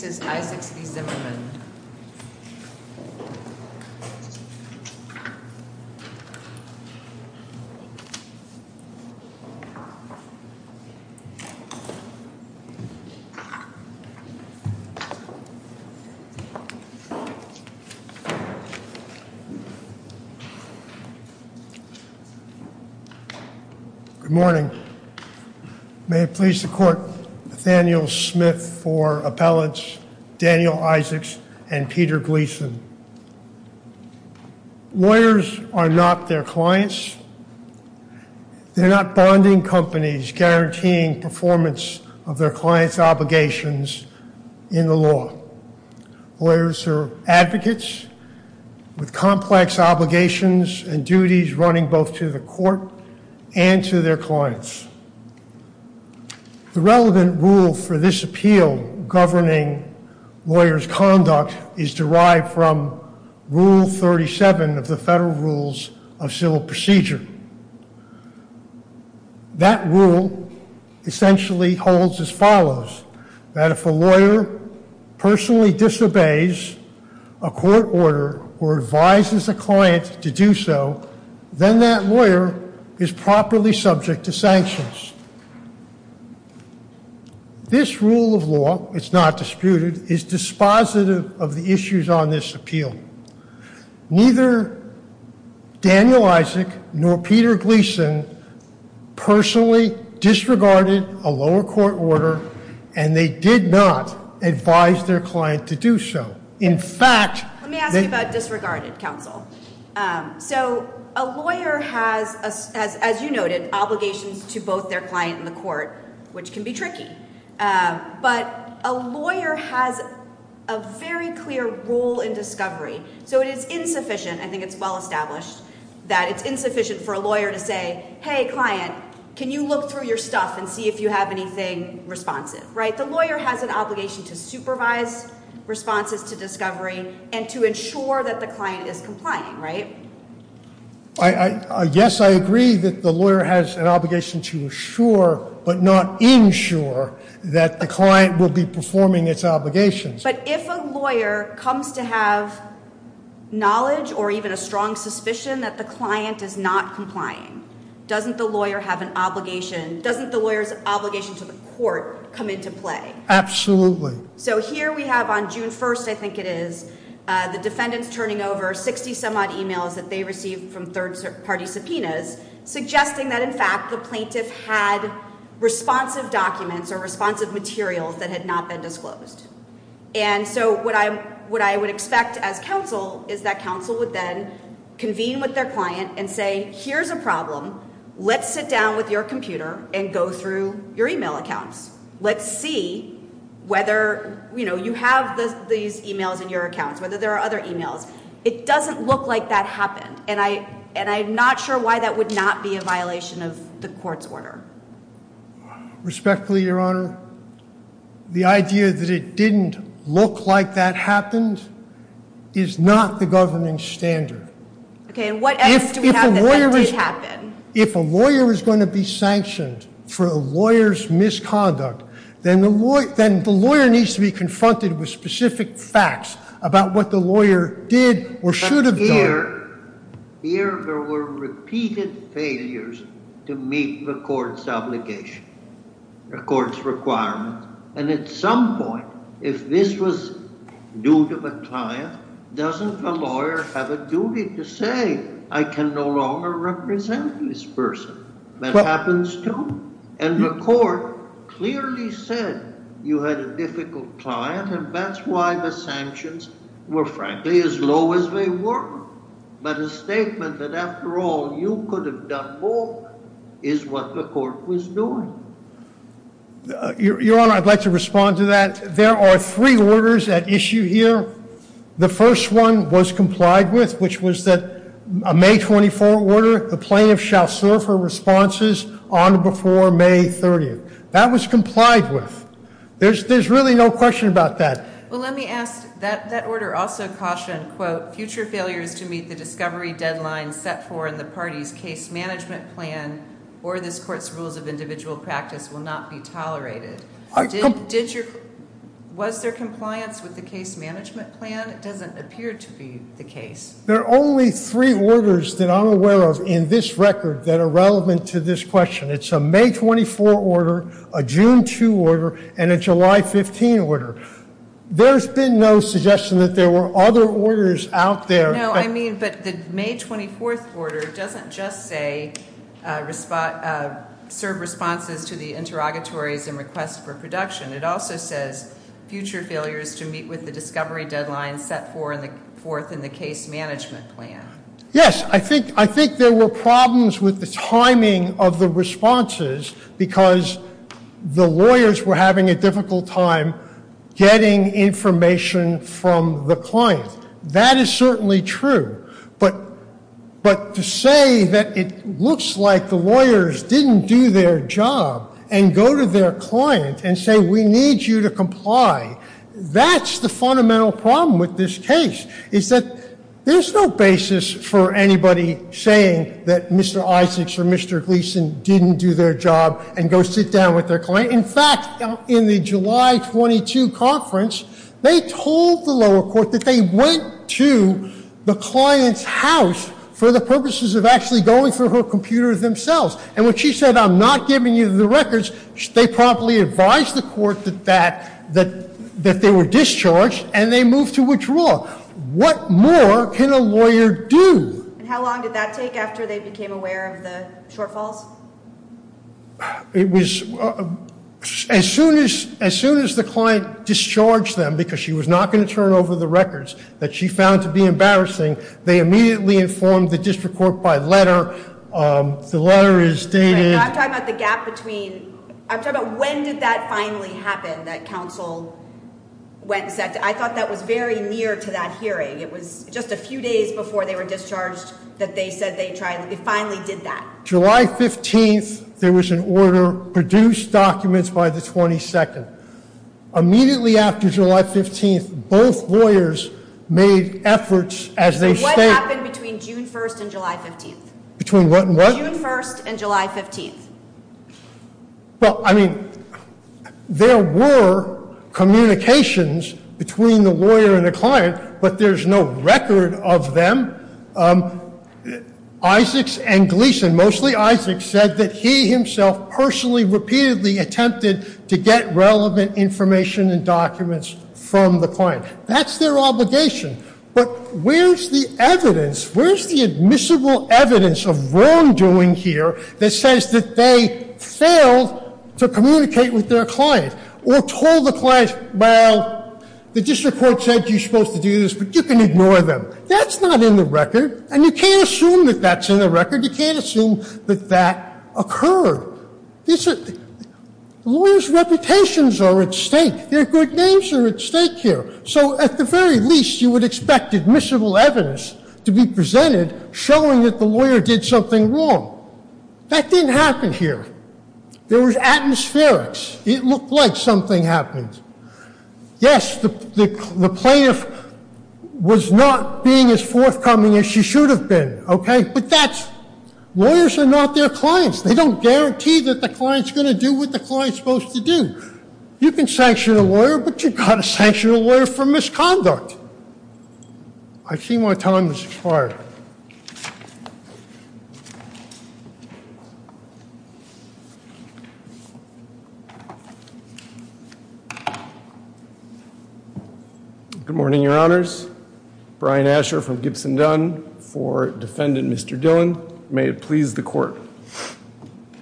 Good morning. May it please the court, Nathaniel Smith for appellants, Daniel Isaacs, and Peter Gleason. Lawyers are not their clients. They're not bonding companies guaranteeing performance of their client's obligations in the law. Lawyers are advocates with complex obligations and duties running both to the court and to their clients. The relevant rule for this appeal governing lawyers' conduct is derived from Rule 37 of the Federal Rules of Civil Procedure. That rule essentially holds as follows, that if a lawyer personally disobeys a court order or advises a client to do so, then that lawyer is properly subject to sanctions. This rule of law, it's not disputed, is dispositive of the issues on this appeal. Neither Daniel Isaac nor Peter Gleason personally disregarded a lower court order and they did not advise their client to do so. In fact- Let me ask you about disregarded, counsel. So a lawyer has, as you noted, obligations to both their client and the court, which can be tricky. But a lawyer has a very clear role in discovery. So it is insufficient, I think it's well established, that it's insufficient for a lawyer to say, hey client, can you look through your stuff and see if you have anything responsive, right? But the lawyer has an obligation to supervise responses to discovery and to ensure that the client is complying, right? Yes, I agree that the lawyer has an obligation to assure but not ensure that the client will be performing its obligations. But if a lawyer comes to have knowledge or even a strong suspicion that the client is not complying, doesn't the lawyer have an obligation, doesn't the lawyer's obligation to the court come into play? So here we have on June 1st, I think it is, the defendants turning over 60 some odd emails that they received from third party subpoenas, suggesting that in fact the plaintiff had responsive documents or responsive materials that had not been disclosed. And so what I would expect as counsel is that counsel would then convene with their client and say, here's a problem, let's sit down with your computer and go through your email accounts. Let's see whether, you know, you have these emails in your accounts, whether there are other emails. It doesn't look like that happened and I'm not sure why that would not be a violation of the court's order. Respectfully, Your Honor, the idea that it didn't look like that happened is not the governing standard. Okay. And what evidence do we have that that did happen? If a lawyer is going to be sanctioned for a lawyer's misconduct, then the lawyer needs to be confronted with specific facts about what the lawyer did or should have done. Here, there were repeated failures to meet the court's obligation, the court's requirement. And at some point, if this was due to the client, doesn't the lawyer have a duty to say, I can no longer represent this person? That happens too. And the court clearly said you had a difficult client and that's why the sanctions were frankly as low as they were. But a statement that after all, you could have done more is what the court was doing. Your Honor, I'd like to respond to that. There are three orders at issue here. The first one was complied with, which was that a May 24 order, the plaintiff shall serve her responses on before May 30th. That was complied with. There's really no question about that. Well, let me ask, that order also cautioned, quote, future failures to meet the discovery deadline set for in the party's case management plan or this court's rules of individual practice will not be tolerated. Was there compliance with the case management plan? It doesn't appear to be the case. There are only three orders that I'm aware of in this record that are relevant to this question. It's a May 24 order, a June 2 order, and a July 15 order. There's been no suggestion that there were other orders out there. No, I mean, but the May 24 order doesn't just say serve responses to the interrogatories and request for production. It also says future failures to meet with the discovery deadline set forth in the case management plan. Yes, I think there were problems with the timing of the responses because the lawyers were having a difficult time getting information from the client. That is certainly true. But to say that it looks like the lawyers didn't do their job and go to their client and say, we need you to comply, that's the fundamental problem with this case is that there's no basis for anybody saying that Mr. Isaacs or Mr. Gleason didn't do their job and go sit down with their client. But in fact, in the July 22 conference, they told the lower court that they went to the client's house for the purposes of actually going for her computer themselves. And when she said, I'm not giving you the records, they promptly advised the court that they were discharged and they moved to withdraw. What more can a lawyer do? How long did that take after they became aware of the shortfalls? It was as soon as the client discharged them, because she was not going to turn over the records that she found to be embarrassing, they immediately informed the district court by letter. The letter is dated. I'm talking about the gap between, I'm talking about when did that finally happen, that counsel went and said, I thought that was very near to that hearing. It was just a few days before they were discharged that they said they finally did that. July 15th, there was an order, produce documents by the 22nd. Immediately after July 15th, both lawyers made efforts as they stated. What happened between June 1st and July 15th? Between what and what? June 1st and July 15th. Well, I mean, there were communications between the lawyer and the client, but there's no record of them. Isaacs and Gleason, mostly Isaacs, said that he himself personally repeatedly attempted to get relevant information and documents from the client. That's their obligation. But where's the evidence? Where's the admissible evidence of wrongdoing here that says that they failed to communicate with their client? Or told the client, well, the district court said you're supposed to do this, but you can ignore them. That's not in the record, and you can't assume that that's in the record. You can't assume that that occurred. Lawyers' reputations are at stake. Their good names are at stake here. So at the very least, you would expect admissible evidence to be presented showing that the lawyer did something wrong. That didn't happen here. There was atmospherics. It looked like something happened. Yes, the plaintiff was not being as forthcoming as she should have been, okay? But that's, lawyers are not their clients. They don't guarantee that the client's going to do what the client's supposed to do. You can sanction a lawyer, but you've got to sanction a lawyer for misconduct. I see my time has expired. Good morning, your honors. Brian Asher from Gibson Dunn for defendant Mr. Dillon. May it please the court.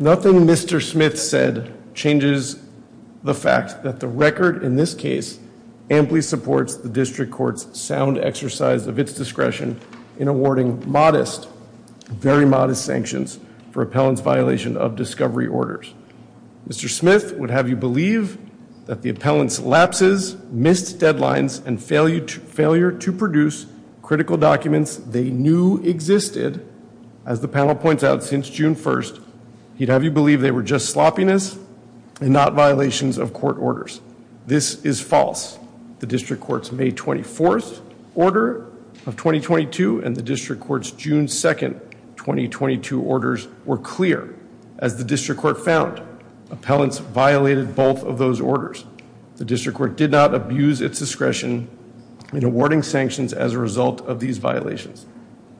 Nothing Mr. Smith said changes the fact that the record in this case amply supports the district court's sound exercise of its discretion in awarding modest, very modest sanctions for appellant's violation of discovery orders. Mr. Smith would have you believe that the appellant's lapses, missed deadlines, and failure to produce critical documents they knew existed, as the panel points out since June 1st, he'd have you believe they were just sloppiness and not violations of court orders. This is false. The district court's May 24th order of 2022 and the district court's June 2nd, 2022 orders were clear. As the district court found, appellants violated both of those orders. The district court did not abuse its discretion in awarding sanctions as a result of these violations.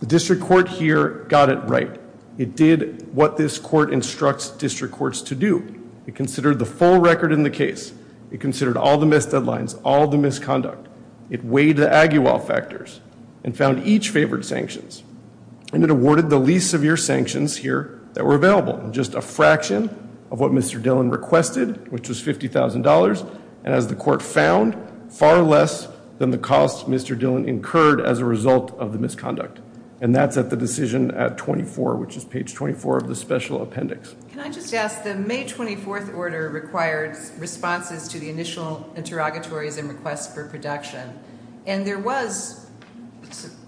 The district court here got it right. It did what this court instructs district courts to do. It considered the full record in the case. It considered all the missed deadlines, all the misconduct. It weighed the Aguiwal factors and found each favored sanctions. And it awarded the least severe sanctions here that were available. Just a fraction of what Mr. Dillon requested, which was $50,000. And as the court found, far less than the cost Mr. Dillon incurred as a result of the misconduct. And that's at the decision at 24, which is page 24 of the special appendix. Can I just ask, the May 24th order required responses to the initial interrogatories and requests for production. And there was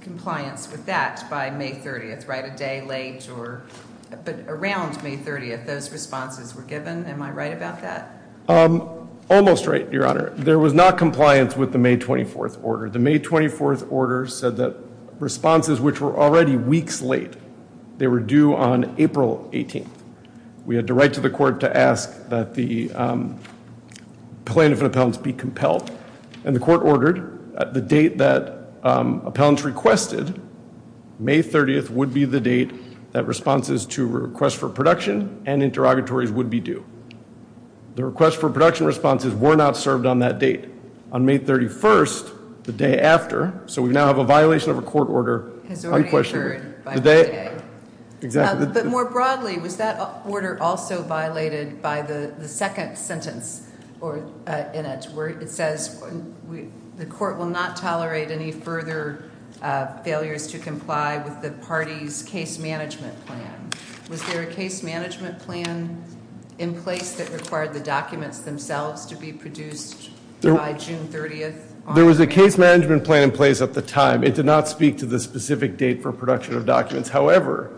compliance with that by May 30th, right? A day late or, but around May 30th, those responses were given. Am I right about that? Almost right, Your Honor. There was not compliance with the May 24th order. The May 24th order said that responses, which were already weeks late, they were due on April 18th. We had to write to the court to ask that the plaintiff and appellants be compelled. And the court ordered the date that appellants requested, May 30th would be the date that responses to requests for production and interrogatories would be due. The request for production responses were not served on that date. On May 31st, the day after, so we now have a violation of a court order. Has already occurred by May 30th. But more broadly, was that order also violated by the second sentence in it, it says the court will not tolerate any further failures to comply with the party's case management plan. Was there a case management plan in place that required the documents themselves to be produced by June 30th? There was a case management plan in place at the time. It did not speak to the specific date for production of documents. However,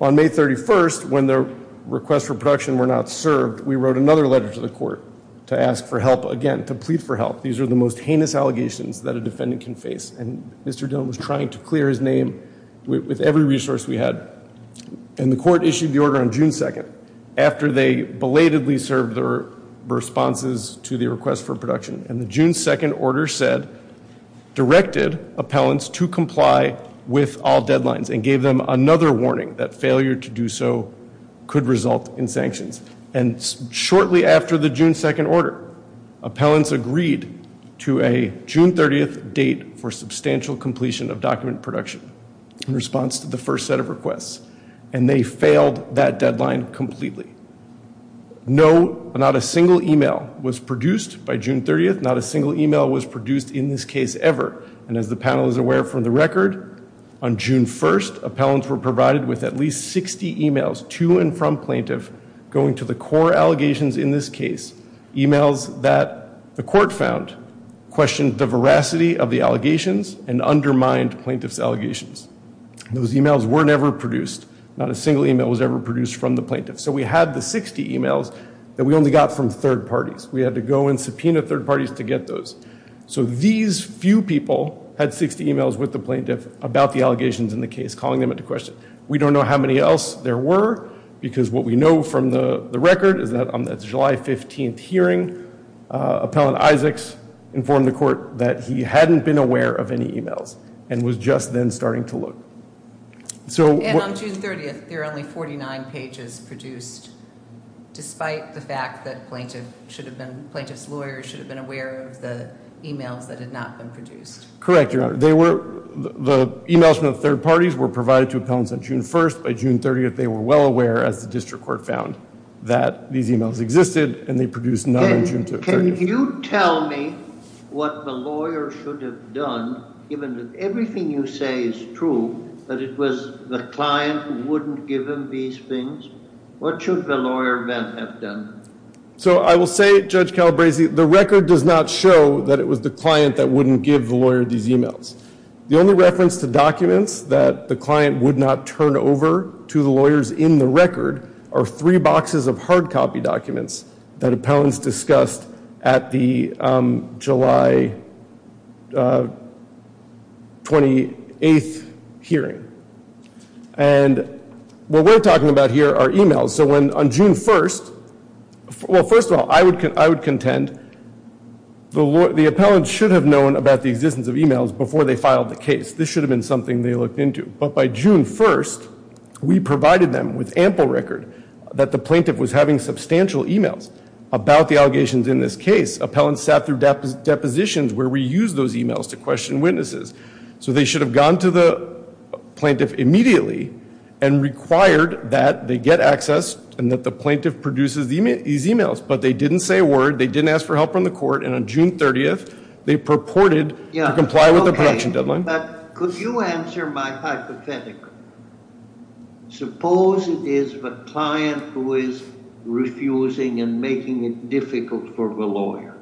on May 31st, when the requests for production were not served, we wrote another letter to the court to ask for help again, to plead for help. These are the most heinous allegations that a defendant can face. And Mr. Dillon was trying to clear his name with every resource we had. And the court issued the order on June 2nd after they belatedly served their responses to the request for production. And the June 2nd order said, directed appellants to comply with all deadlines and gave them another warning that failure to do so could result in sanctions. And shortly after the June 2nd order, appellants agreed to a June 30th date for substantial completion of document production in response to the first set of requests. And they failed that deadline completely. No, not a single email was produced by June 30th. Not a single email was produced in this case ever. And as the panel is aware from the record, on June 1st, with at least 60 emails to and from plaintiff going to the core allegations in this case, emails that the court found questioned the veracity of the allegations and undermined plaintiff's allegations. Those emails were never produced. Not a single email was ever produced from the plaintiff. So we had the 60 emails that we only got from third parties. We had to go and subpoena third parties to get those. So these few people had 60 emails with the plaintiff about the allegations in the case, calling them into question. We don't know how many else there were because what we know from the record is that on that July 15th hearing, Appellant Isaacs informed the court that he hadn't been aware of any emails and was just then starting to look. So... And on June 30th, there are only 49 pages produced, despite the fact that plaintiff should have been, plaintiff's lawyers should have been aware of the emails that had not been produced. Correct, Your Honor. The emails from the third parties were provided to appellants on June 1st. By June 30th, they were well aware, as the district court found, that these emails existed and they produced none on June 30th. Can you tell me what the lawyer should have done, given that everything you say is true, that it was the client who wouldn't give him these things? What should the lawyer then have done? So I will say, Judge Calabresi, the record does not show that it was the client that wouldn't give the lawyer these emails. The only reference to documents that the client would not turn over to the lawyers in the record are three boxes of hard copy documents that appellants discussed at the July 28th hearing. And what we're talking about here are emails. So when on June 1st... Well, first of all, I would contend the appellant should have known about the existence of emails before they filed the case. This should have been something they looked into. But by June 1st, we provided them with ample record that the plaintiff was having substantial emails about the allegations in this case. Appellants sat through depositions where we used those emails to question witnesses. So they should have gone to the plaintiff immediately and required that they get access and that the plaintiff produces these emails. But they didn't say a word. They didn't ask for help from the court. And on June 30th, they purported to comply with the production deadline. But could you answer my hypothetical? Suppose it is the client who is refusing and making it difficult for the lawyer.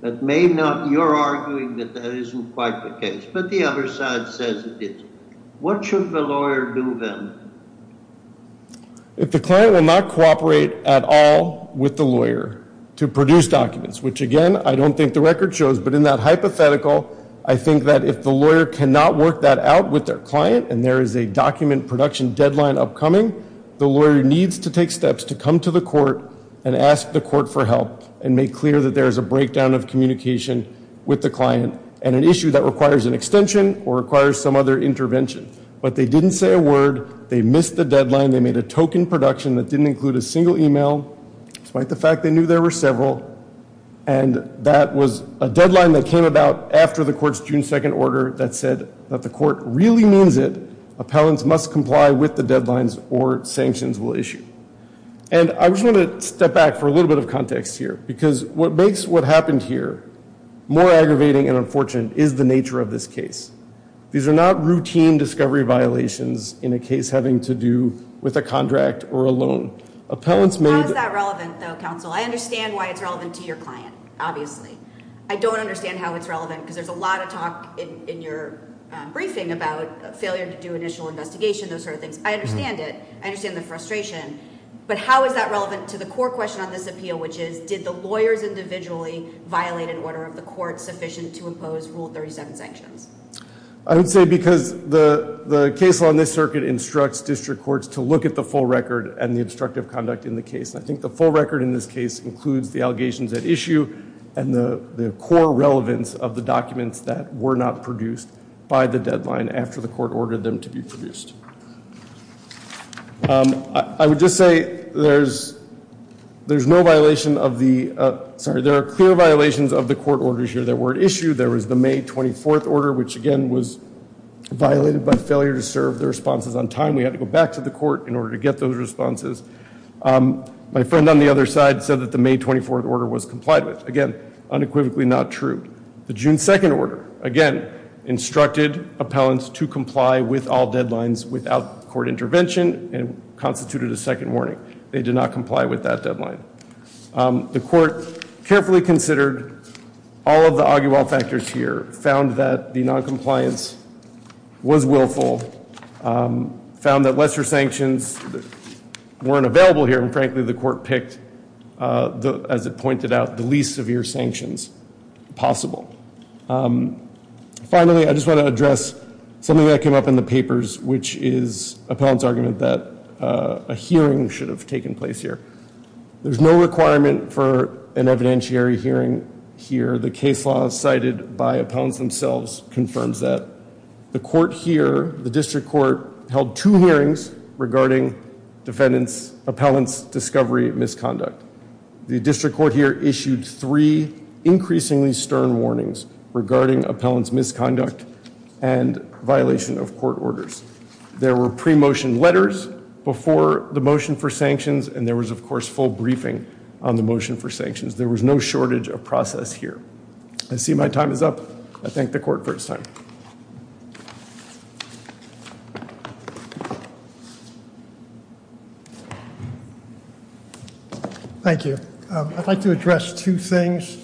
That may not... You're arguing that that isn't quite the case, but the other side says it is. What should the lawyer do then? If the client will not cooperate at all with the lawyer to produce documents, which again, I don't think the record shows. But in that hypothetical, I think that if the lawyer cannot work that out with their client and there is a document production deadline upcoming, the lawyer needs to take steps to come to the court and ask the court for help and make clear that there is a breakdown of communication with the client and an issue that requires an extension or requires some other intervention. But they didn't say a word. They missed the deadline. They made a token production that didn't include a single email. Despite the fact they knew there were several. And that was a deadline that came about after the court's June 2nd order that said that the court really means it. Appellants must comply with the deadlines or sanctions will issue. And I just want to step back for a little bit of context here because what makes what happened here more aggravating and unfortunate is the nature of this case. These are not routine discovery violations in a case having to do with a contract or a loan. Appellants made... How is that relevant though, counsel? I understand why it's relevant to your client, obviously. I don't understand how it's relevant because there's a lot of talk in your briefing about failure to do initial investigation, those sort of things. I understand it. I understand the frustration. But how is that relevant to the core question on this appeal, which is did the lawyers individually violate an order of the court sufficient to impose Rule 37 sanctions? I would say because the case on this circuit instructs district courts to look at the full record and the instructive conduct in the case. And I think the full record in this case includes the allegations at issue and the core relevance of the documents that were not produced by the deadline after the court ordered them to be produced. I would just say there's no violation of the... Sorry, there are clear violations of the court orders here that were at issue. There was the May 24th order, which again was violated by failure to serve the responses on time. We had to go back to the court in order to get those responses. My friend on the other side said that the May 24th order was complied with. Again, unequivocally not true. The June 2nd order, again, instructed appellants to comply with all deadlines without court intervention and constituted a second warning. They did not comply with that deadline. The court carefully considered all of the argue-all factors here, found that the noncompliance was willful, found that lesser sanctions weren't available here, and frankly, the court picked, as it pointed out, the least severe sanctions possible. Finally, I just want to address something that came up in the papers, which is appellant's argument that a hearing should have taken place here. There's no requirement for an evidentiary hearing here. The case law cited by appellants themselves confirms that. The court here, the district court, held two hearings regarding defendant's appellant's discovery misconduct. The district court here issued three increasingly stern warnings regarding appellant's misconduct and violation of court orders. There were pre-motion letters before the motion for sanctions, and there was, of course, full briefing on the motion for sanctions. There was no shortage of process here. I see my time is up. I thank the court for its time. Thank you. I'd like to address two things.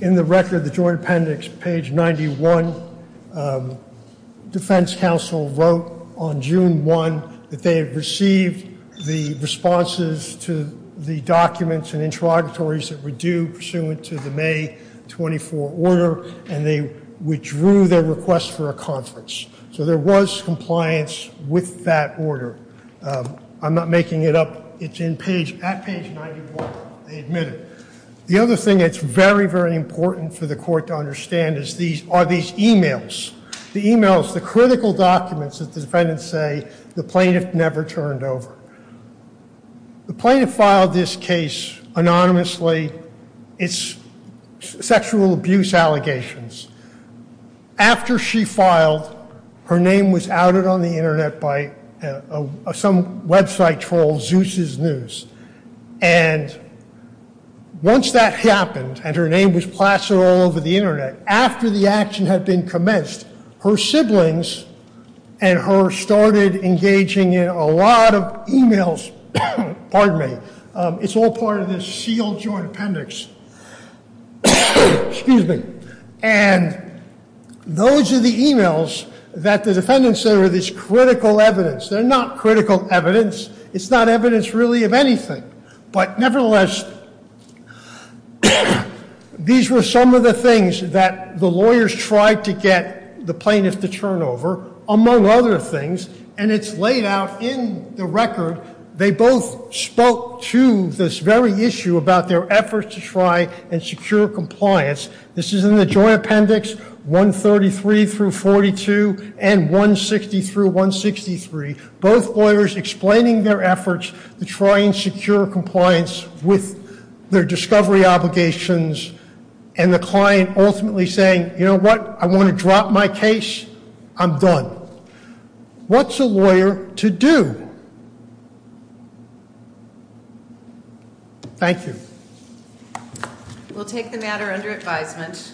In the record, the joint appendix, page 91, defense counsel wrote on June 1 that they had received the responses to the documents and interrogatories that were due pursuant to the May 24 order, and they withdrew their request for a conference. So there was compliance with that order. I'm not making it up. It's at page 91. They admit it. The other thing that's very, very important for the court to understand is these are these emails. The emails, the critical documents that the defendants say the plaintiff never turned over. The plaintiff filed this case anonymously. It's sexual abuse allegations. After she filed, her name was outed on the internet by some website troll, Zeus's News. And once that happened, and her name was plastered all over the internet, after the action had been commenced, her siblings and her started engaging in a lot of emails. Pardon me. It's all part of this sealed joint appendix. Excuse me. And those are the emails that the defendants say are this critical evidence. They're not critical evidence. It's not evidence really of anything. But nevertheless, these were some of the things that the lawyers tried to get the plaintiff to turn over, among other things. And it's laid out in the record. They both spoke to this very issue about their efforts to try and secure compliance. This is in the joint appendix 133 through 42 and 160 through 163. Both lawyers explaining their efforts to try and secure compliance with their discovery obligations. And the client ultimately saying, you know what? I want to drop my case. I'm done. What's a lawyer to do? Thank you. We'll take the matter under advisement.